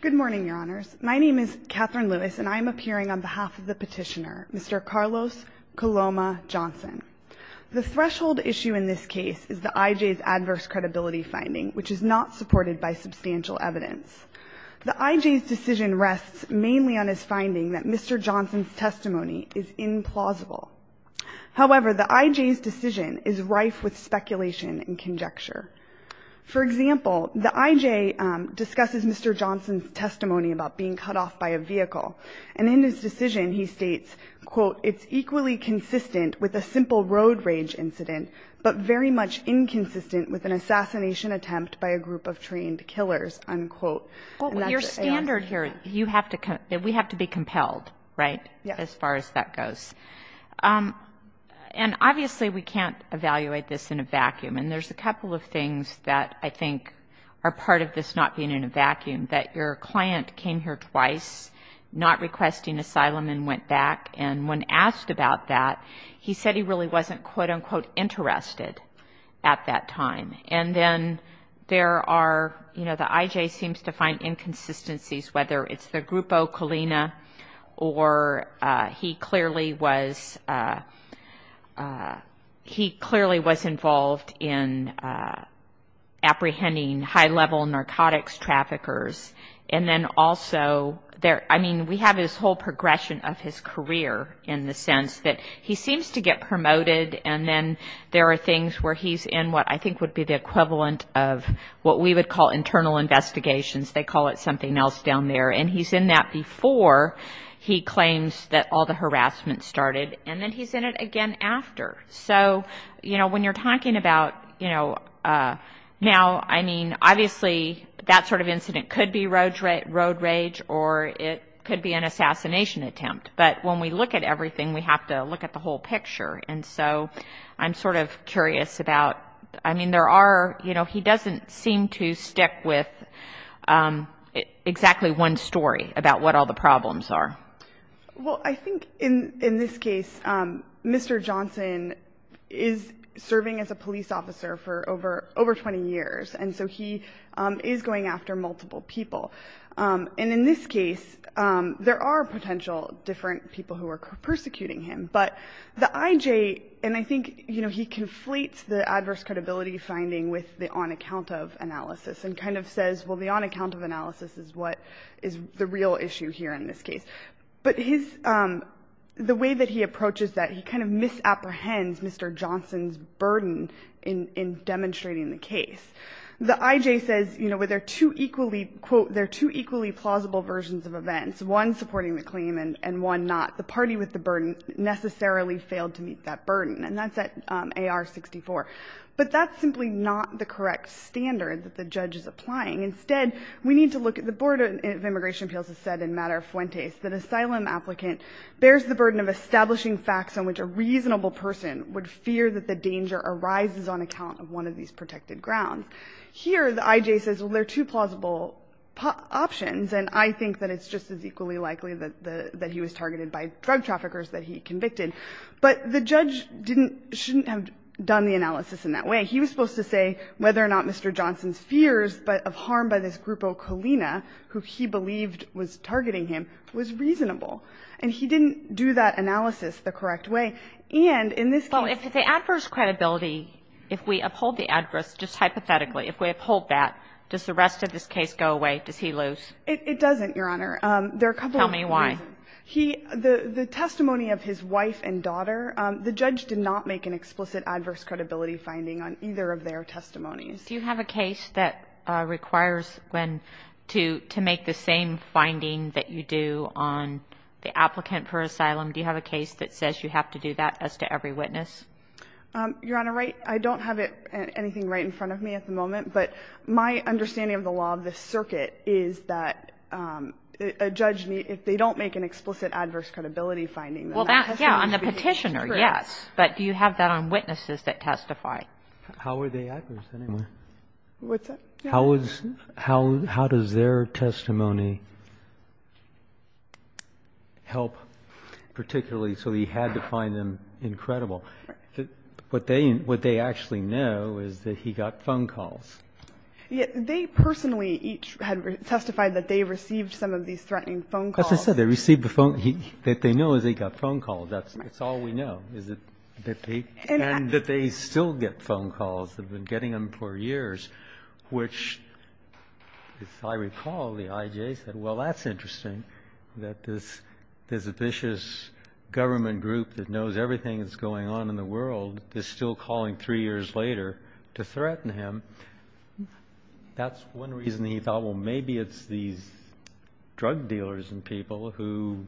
Good morning, Your Honors. My name is Katherine Lewis, and I am appearing on behalf of the petitioner, Mr. Carlos Coloma Johnson. The threshold issue in this case is the I.J.'s adverse credibility finding, which is not supported by substantial evidence. The I.J.'s decision rests mainly on his finding that Mr. Johnson's testimony is implausible. However, the I.J.'s decision is rife with speculation and conjecture. For example, the I.J. discusses Mr. Johnson's testimony about being cut off by a vehicle. And in his decision, he states, quote, It's equally consistent with a simple road rage incident, but very much inconsistent with an assassination attempt by a group of trained killers, unquote. Your standard here, you have to, we have to be compelled, right, as far as that goes. And obviously, we can't evaluate this in a vacuum. And there's a couple of things that I think are part of this not being in a vacuum. That your client came here twice, not requesting asylum, and went back. And when asked about that, he said he really wasn't, quote, unquote, interested at that time. And then there are, you know, the I.J. seems to find inconsistencies, whether it's the Grupo Colina, or he clearly was, he clearly was involved in apprehending high-level narcotics traffickers. And then also, I mean, we have this whole progression of his career in the sense that he seems to get promoted, and then there are things where he's in what I think would be the equivalent of what we would call internal investigations. They call it something else down there. And he's in that before he claims that all the harassment started, and then he's in it again after. So, you know, when you're talking about, you know, now, I mean, obviously, that sort of incident could be road rage, or it could be an assassination attempt. But when we look at everything, we have to look at the whole picture. And so I'm sort of curious about, I mean, there are, you know, he doesn't seem to stick with exactly one story about what all the problems are. Well, I think in this case, Mr. Johnson is serving as a police officer for over 20 years, and so he is going after multiple people. And in this case, there are potential different people who are persecuting him. But the IJ, and I think, you know, he conflates the adverse credibility finding with the on account of analysis and kind of says, well, the on account of analysis is what is the real issue here in this case. But his the way that he approaches that, he kind of misapprehends Mr. Johnson's burden in demonstrating the case. The IJ says, you know, there are two equally, quote, there are two equally plausible versions of events, one supporting the claim and one not. The party with the burden necessarily failed to meet that burden. And that's at AR-64. But that's simply not the correct standard that the judge is applying. Instead, we need to look at the Board of Immigration Appeals has said in Matter Fuentes that asylum applicant bears the burden of establishing facts on which a reasonable person would fear that the danger arises on account of one of these protected grounds. Here, the IJ says, well, there are two plausible options. And I think that it's just as equally likely that he was targeted by drug traffickers that he convicted. But the judge didn't, shouldn't have done the analysis in that way. He was supposed to say whether or not Mr. Johnson's fears, but of harm by this Grupo Colina, who he believed was targeting him, was reasonable. And he didn't do that analysis the correct way. And in this case the adverse credibility, if we uphold the adverse, just hypothetically, if we uphold that, does the rest of this case go away? Does he lose? It doesn't, Your Honor. There are a couple of reasons. Tell me why. He, the testimony of his wife and daughter, the judge did not make an explicit adverse credibility finding on either of their testimonies. Do you have a case that requires when to make the same finding that you do on the applicant for asylum? Do you have a case that says you have to do that as to every witness? Your Honor, I don't have anything right in front of me at the moment. But my understanding of the law of this circuit is that a judge, if they don't make an explicit adverse credibility finding, then that testimony should be true. Yeah, on the petitioner, yes. But do you have that on witnesses that testify? How are they adverse, anyway? What's that? How does their testimony help particularly so he had to find them incredible? What they actually know is that he got phone calls. Yeah. They personally each had testified that they received some of these threatening phone calls. As I said, they received the phone. What they know is they got phone calls. That's all we know. And that they still get phone calls. They've been getting them for years, which, as I recall, the IJ said, well, that's interesting, that this vicious government group that knows everything that's going on in the world is still calling three years later to threaten him. That's one reason he thought, well, maybe it's these drug dealers and people who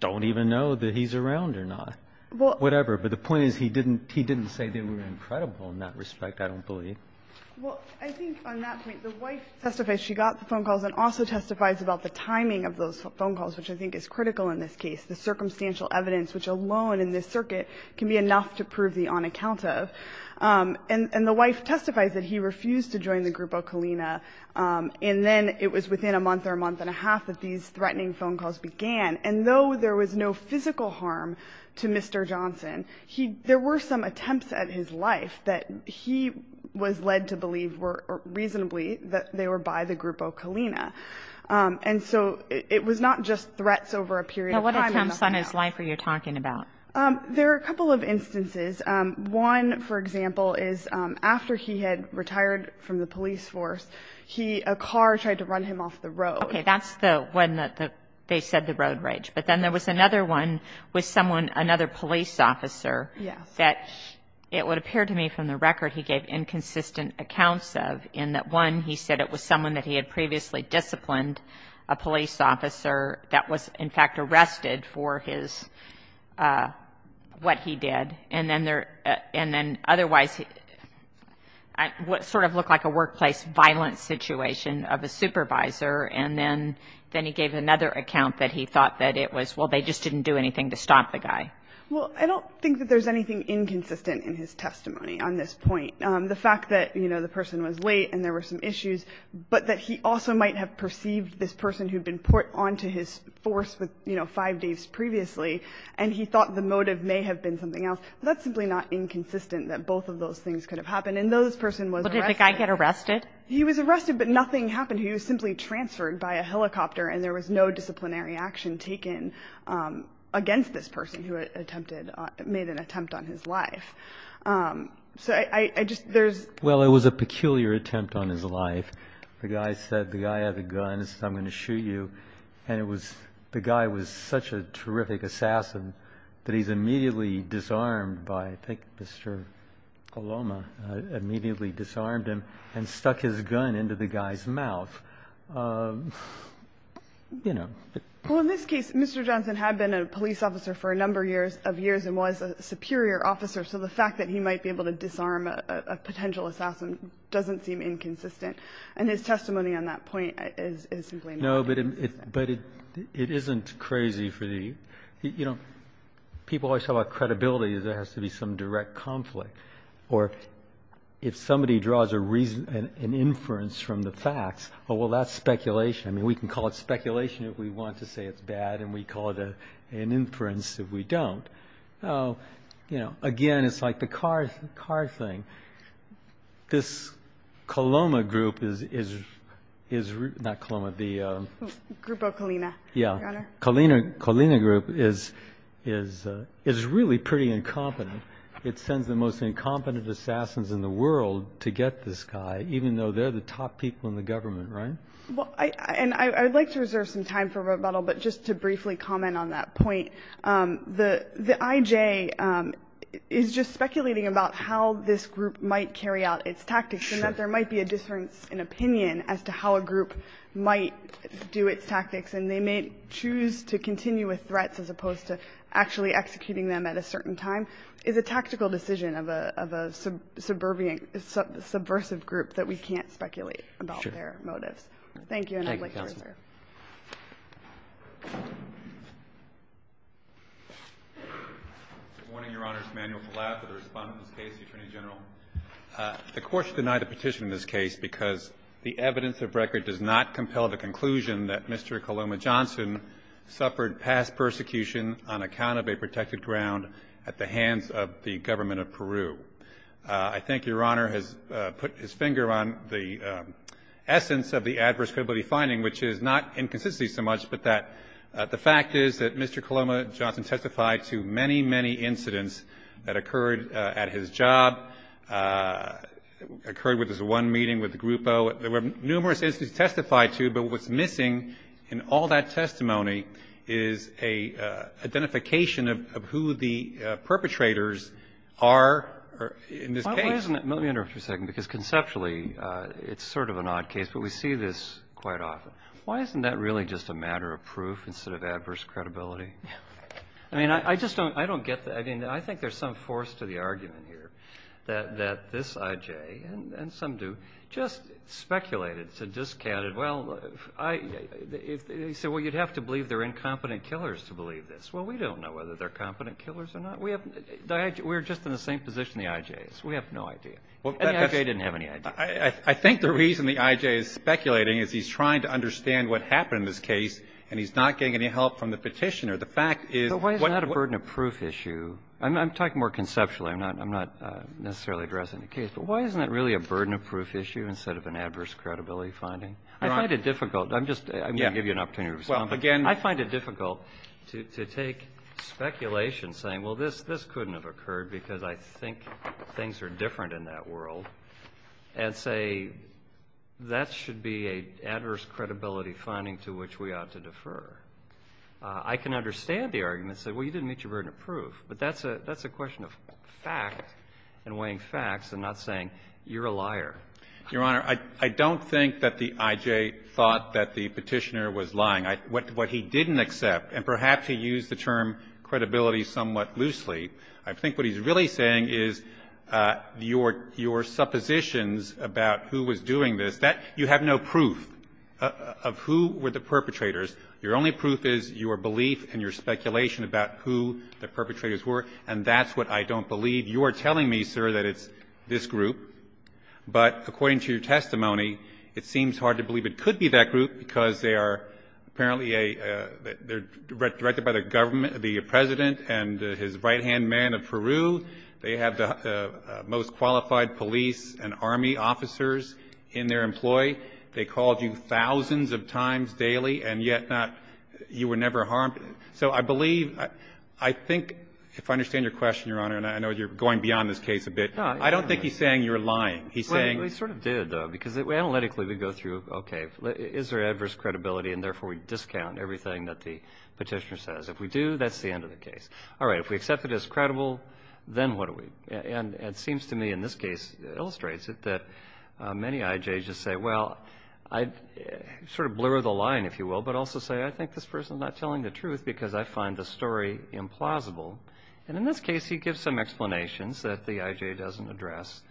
don't even know that he's around or not. Whatever. But the point is he didn't say they were incredible in that respect, I don't believe. Well, I think on that point, the wife testifies she got the phone calls and also testifies about the timing of those phone calls, which I think is critical in this case, the circumstantial evidence, which alone in this circuit can be enough to prove the on account of. And the wife testifies that he refused to join the group of Kalina, and then it was within a month or a month and a half that these threatening phone calls began. And though there was no physical harm to Mr. Johnson, there were some attempts at his life that he was led to believe were reasonably that they were by the group of Kalina. And so it was not just threats over a period of time. Now, what attempts on his life are you talking about? There are a couple of instances. One, for example, is after he had retired from the police force, a car tried to run him off the road. Okay. That's the one that they said the road rage. But then there was another one with someone, another police officer, that it would appear to me from the record he gave inconsistent accounts of, in that, one, he said it was someone that he had previously disciplined, a police officer that was, in fact, arrested for his what he did. And then there – and then otherwise, what sort of looked like a workplace violence situation of a supervisor. And then he gave another account that he thought that it was, well, they just didn't do anything to stop the guy. Well, I don't think that there's anything inconsistent in his testimony on this point. The fact that, you know, the person was late and there were some issues, but that he also might have perceived this person who had been put onto his force with, you know, five days previously, and he thought the motive may have been something else, that's simply not inconsistent that both of those things could have happened. And this person was arrested. Did this guy get arrested? He was arrested, but nothing happened. He was simply transferred by a helicopter, and there was no disciplinary action taken against this person who attempted – made an attempt on his life. So I just – there's – Well, it was a peculiar attempt on his life. The guy said – the guy had a gun and said, I'm going to shoot you. I think Mr. Coloma immediately disarmed him and stuck his gun into the guy's mouth. You know. Well, in this case, Mr. Johnson had been a police officer for a number of years and was a superior officer, so the fact that he might be able to disarm a potential assassin doesn't seem inconsistent. And his testimony on that point is simply not inconsistent. No, but it isn't crazy for the – you know, people always talk about credibility as there has to be some direct conflict. Or if somebody draws a reason – an inference from the facts, oh, well, that's speculation. I mean, we can call it speculation if we want to say it's bad, and we call it an inference if we don't. You know, again, it's like the car thing. This Coloma group is – not Coloma, the – Group of Colina, Your Honor. Colina Group is really pretty incompetent. It sends the most incompetent assassins in the world to get this guy, even though they're the top people in the government, right? And I would like to reserve some time for rebuttal, but just to briefly comment on that point. The IJ is just speculating about how this group might carry out its tactics and that there might be a difference in opinion as to how a group might do its tactics. And they may choose to continue with threats as opposed to actually executing them at a certain time is a tactical decision of a – of a subversive group that we can't speculate about their motives. Thank you, and I'd like to reserve. Roberts. Good morning, Your Honor. Emanuel Palazzo, the Respondent of this case, the Attorney General. The Court should deny the petition in this case because the evidence of record does not compel the conclusion that Mr. Coloma Johnson suffered past persecution on account of a protected ground at the hands of the government of Peru. I think Your Honor has put his finger on the essence of the adverse credibility finding, which is not inconsistency so much, but that the fact is that Mr. Coloma Johnson testified to many, many incidents that occurred at his job, occurred with his one meeting with Grupo. There were numerous instances he testified to, but what's missing in all that testimony is a identification of who the perpetrators are in this case. Why isn't it – let me interrupt you for a second, because conceptually it's sort of an odd case, but we see this quite often. Why isn't that really just a matter of proof instead of adverse credibility? I mean, I just don't – I don't get the – I mean, I think there's some force to the argument here that this I.J., and some do, just speculated, said, discounted, well, I – they said, well, you'd have to believe they're incompetent killers to believe this. Well, we don't know whether they're competent killers or not. We have – we're just in the same position the I.J. is. We have no idea. And the I.J. didn't have any idea. I think the reason the I.J. is speculating is he's trying to understand what happened in this case, and he's not getting any help from the Petitioner. The fact is what – I'm talking more conceptually. I'm not necessarily addressing the case. But why isn't that really a burden of proof issue instead of an adverse credibility finding? I find it difficult. I'm just – I'm going to give you an opportunity to respond. Well, again – I find it difficult to take speculation, saying, well, this couldn't have occurred because I think things are different in that world, and say that should be an adverse credibility finding to which we ought to defer. I can understand the argument, say, well, you didn't meet your burden of proof. But that's a question of fact and weighing facts and not saying you're a liar. Your Honor, I don't think that the I.J. thought that the Petitioner was lying. What he didn't accept, and perhaps he used the term credibility somewhat loosely, I think what he's really saying is your suppositions about who was doing this, that you have no proof of who were the perpetrators. Your only proof is your belief and your speculation about who the perpetrators were, and that's what I don't believe. You are telling me, sir, that it's this group. But according to your testimony, it seems hard to believe it could be that group because they are apparently a – they're directed by the government – the President and his right-hand man of Peru. They have the most qualified police and army officers in their employ. They called you thousands of times daily, and yet not – you were never harmed. So I believe – I think, if I understand your question, Your Honor, and I know you're going beyond this case a bit. I don't think he's saying you're lying. He's saying – Well, he sort of did, though, because analytically we go through, okay, is there adverse credibility, and therefore we discount everything that the Petitioner says. If we do, that's the end of the case. All right. If we accept it as credible, then what do we – and it seems to me, in this case, illustrates it, that many IJs just say, well, I – sort of blur the line, if you will, but also say, I think this person's not telling the truth because I find the story implausible. And in this case, he gives some explanations that the IJ doesn't address.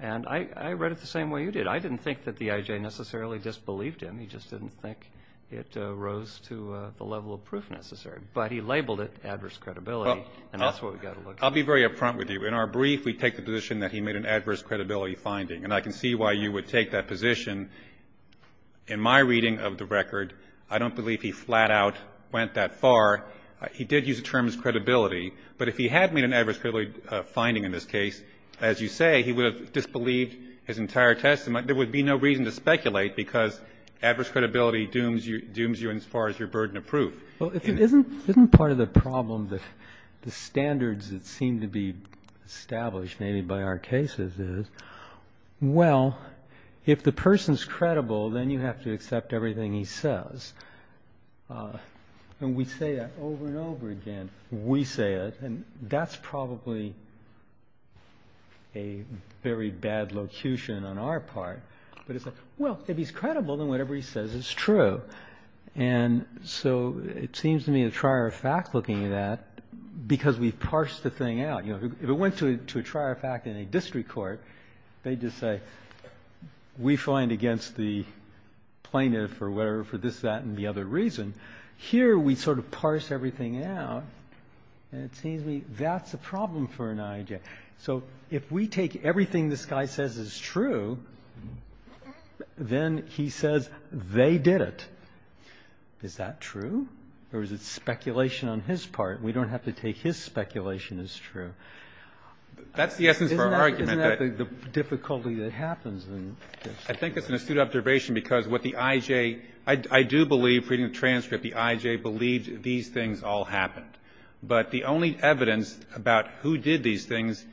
And I read it the same way you did. I didn't think that the IJ necessarily disbelieved him. He just didn't think it rose to the level of proof necessary. But he labeled it adverse credibility, and that's what we've got to look for. I'll be very upfront with you. In our brief, we take the position that he made an adverse credibility finding. And I can see why you would take that position. In my reading of the record, I don't believe he flat out went that far. He did use the term credibility. But if he had made an adverse credibility finding in this case, as you say, he would have disbelieved his entire testimony. There would be no reason to speculate because adverse credibility dooms you as far as your burden of proof. Well, isn't part of the problem that the standards that seem to be established maybe by our cases is, well, if the person's credible, then you have to accept everything he says. And we say that over and over again. We say it. And that's probably a very bad locution on our part. But it's like, well, if he's credible, then whatever he says is true. And so it seems to me a trier of fact looking at that because we've parsed the thing out. If it went to a trier of fact in a district court, they'd just say, we find against the plaintiff or whatever for this, that, and the other reason. Here we sort of parse everything out. And it seems to me that's a problem for an IJ. Okay. So if we take everything this guy says is true, then he says they did it. Is that true? Or is it speculation on his part? We don't have to take his speculation as true. That's the essence of our argument. Isn't that the difficulty that happens in this? I think it's an astute observation because what the IJ – I do believe, reading the transcript, the IJ believed these things all happened. But the only evidence about who did these things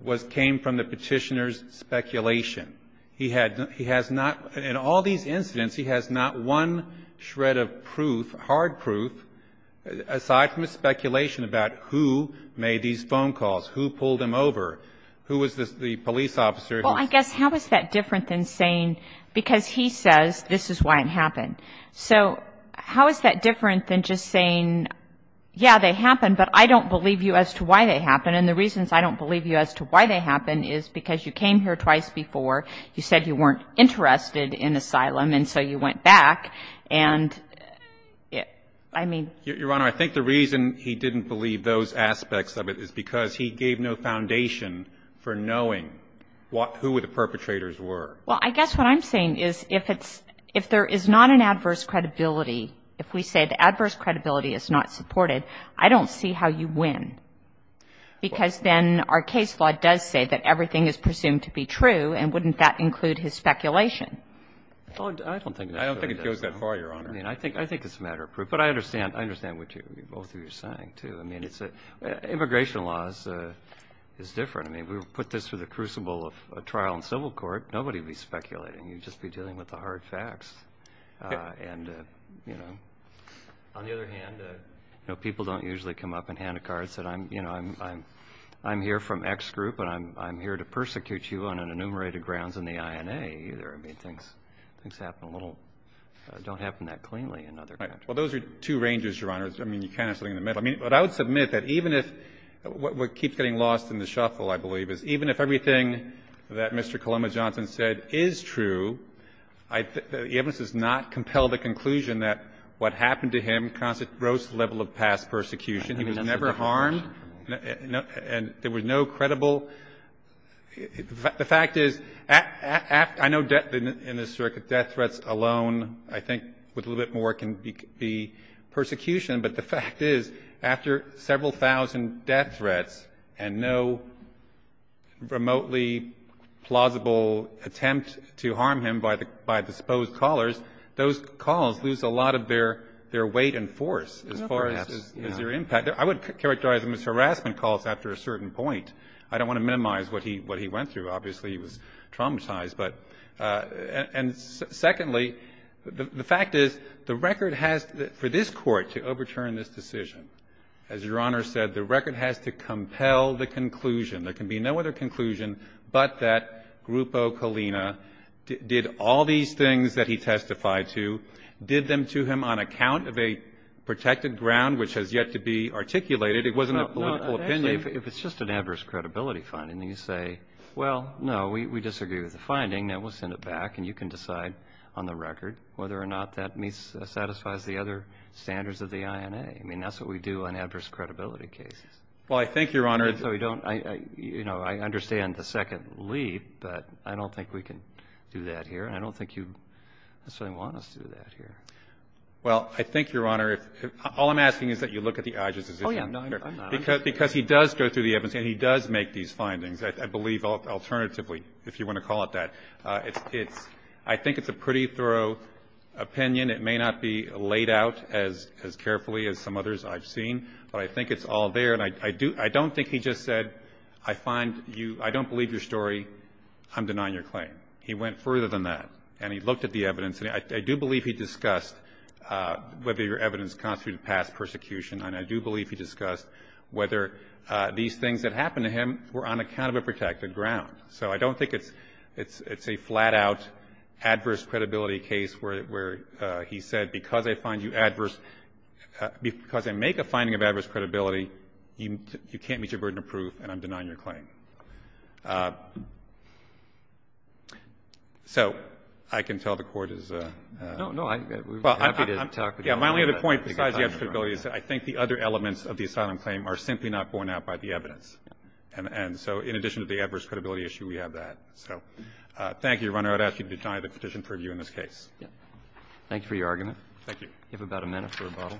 was – came from the Petitioner's speculation. He had – he has not – in all these incidents, he has not one shred of proof, hard proof, aside from his speculation about who made these phone calls, who pulled him over, who was the police officer. Well, I guess, how is that different than saying – because he says this is why it happened. So how is that different than just saying, yeah, they happened, but I don't believe you as to why they happened. And the reasons I don't believe you as to why they happened is because you came here twice before. You said you weren't interested in asylum, and so you went back. And I mean – Your Honor, I think the reason he didn't believe those aspects of it is because he gave no foundation for knowing what – who the perpetrators were. Well, I guess what I'm saying is if it's – if there is not an adverse credibility, if we say the adverse credibility is not supported, I don't see how you win. Because then our case law does say that everything is presumed to be true, and wouldn't that include his speculation? Well, I don't think – I don't think it goes that far, Your Honor. I mean, I think it's a matter of proof. But I understand what you – both of you are saying, too. I mean, it's – immigration law is different. I mean, we put this through the crucible of a trial in civil court. Nobody would be speculating. You'd just be dealing with the hard facts. And, you know, on the other hand, people don't usually come up and hand a card and say, you know, I'm here from X group, and I'm here to persecute you on an enumerated grounds in the INA, either. I mean, things happen a little – don't happen that cleanly in other countries. Well, those are two ranges, Your Honor. I mean, you're kind of sitting in the middle. I mean, but I would submit that even if – what keeps getting lost in the shuffle, I believe, is even if everything that Mr. Coloma Johnson said is true, I think the evidence does not compel the conclusion that what happened to him caused a gross level of past persecution. He was never harmed. And there was no credible – the fact is, I know in this circuit death threats alone, I think, with a little bit more, can be persecution. But the fact is, after several thousand death threats and no remotely plausible attempt to harm him by disposed callers, those calls lose a lot of their weight and force as far as their impact. I would characterize them as harassment calls after a certain point. I don't want to minimize what he went through. Obviously, he was traumatized. But – and secondly, the fact is, the record has – for this Court to overturn this decision, as Your Honor said, the record has to compel the conclusion. There can be no other conclusion but that Grupo Colina did all these things that he testified to, did them to him on account of a protected ground which has yet to be articulated. It wasn't a political opinion. Well, if it's just an adverse credibility finding, then you say, well, no, we disagree with the finding. Now, we'll send it back, and you can decide on the record whether or not that satisfies the other standards of the INA. I mean, that's what we do on adverse credibility cases. Well, I think, Your Honor – And so we don't – you know, I understand the second leap, but I don't think we can do that here, and I don't think you necessarily want us to do that here. Well, I think, Your Honor, if – all I'm asking is that you look at the Idris decision. Oh, yeah. Because he does go through the evidence, and he does make these findings, I believe, alternatively, if you want to call it that. It's – I think it's a pretty thorough opinion. It may not be laid out as carefully as some others I've seen, but I think it's all there, and I don't think he just said, I find you – I don't believe your story. I'm denying your claim. He went further than that, and he looked at the evidence, and I do believe he discussed whether your evidence constitutes past persecution, and I do believe he discussed whether these things that happened to him were on account of a protected ground. So I don't think it's – it's a flat-out adverse credibility case where he said, because I find you adverse – because I make a finding of adverse credibility, you can't meet your burden of proof, and I'm denying your claim. So I can tell the Court is – No, no. Well, I'm happy to talk with you. Yeah, my only other point besides the adverse credibility is that I think the other elements of the asylum claim are simply not borne out by the evidence. And so in addition to the adverse credibility issue, we have that. So thank you, Your Honor. I would ask you to deny the petition for review in this case. Thank you for your argument. Thank you. You have about a minute for rebuttal.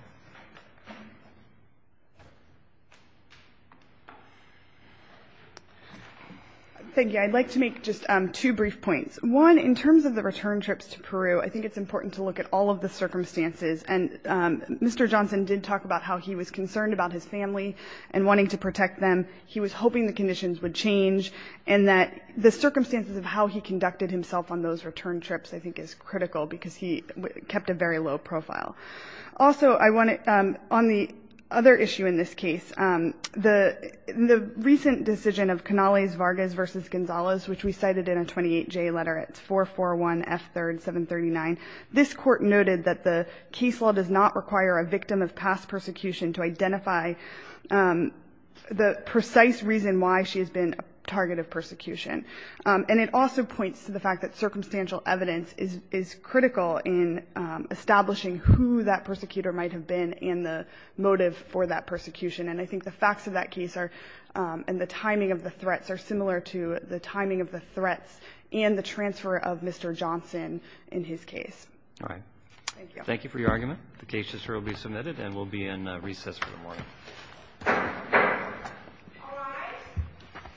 Thank you. I'd like to make just two brief points. One, in terms of the return trips to Peru, I think it's important to look at all of the circumstances. And Mr. Johnson did talk about how he was concerned about his family and wanting to protect them. He was hoping the conditions would change, and that the circumstances of how he conducted himself on those return trips, I think, is critical because he kept a very low profile. Also, I want to – on the other issue in this case, the recent decision of Canales-Vargas v. Gonzalez, which we cited in a 28J letter. It's 441 F. 3rd, 739. This Court noted that the case law does not require a victim of past persecution to identify the precise reason why she has been a target of persecution. And it also points to the fact that circumstantial evidence is critical in establishing who that persecutor might have been and the motive for that persecution. And I think the facts of that case are – and the timing of the threats are similar to the timing of the threats and the transfer of Mr. Johnson in his case. All right. Thank you. Thank you for your argument. The case is surely submitted, and we'll be in recess for the morning.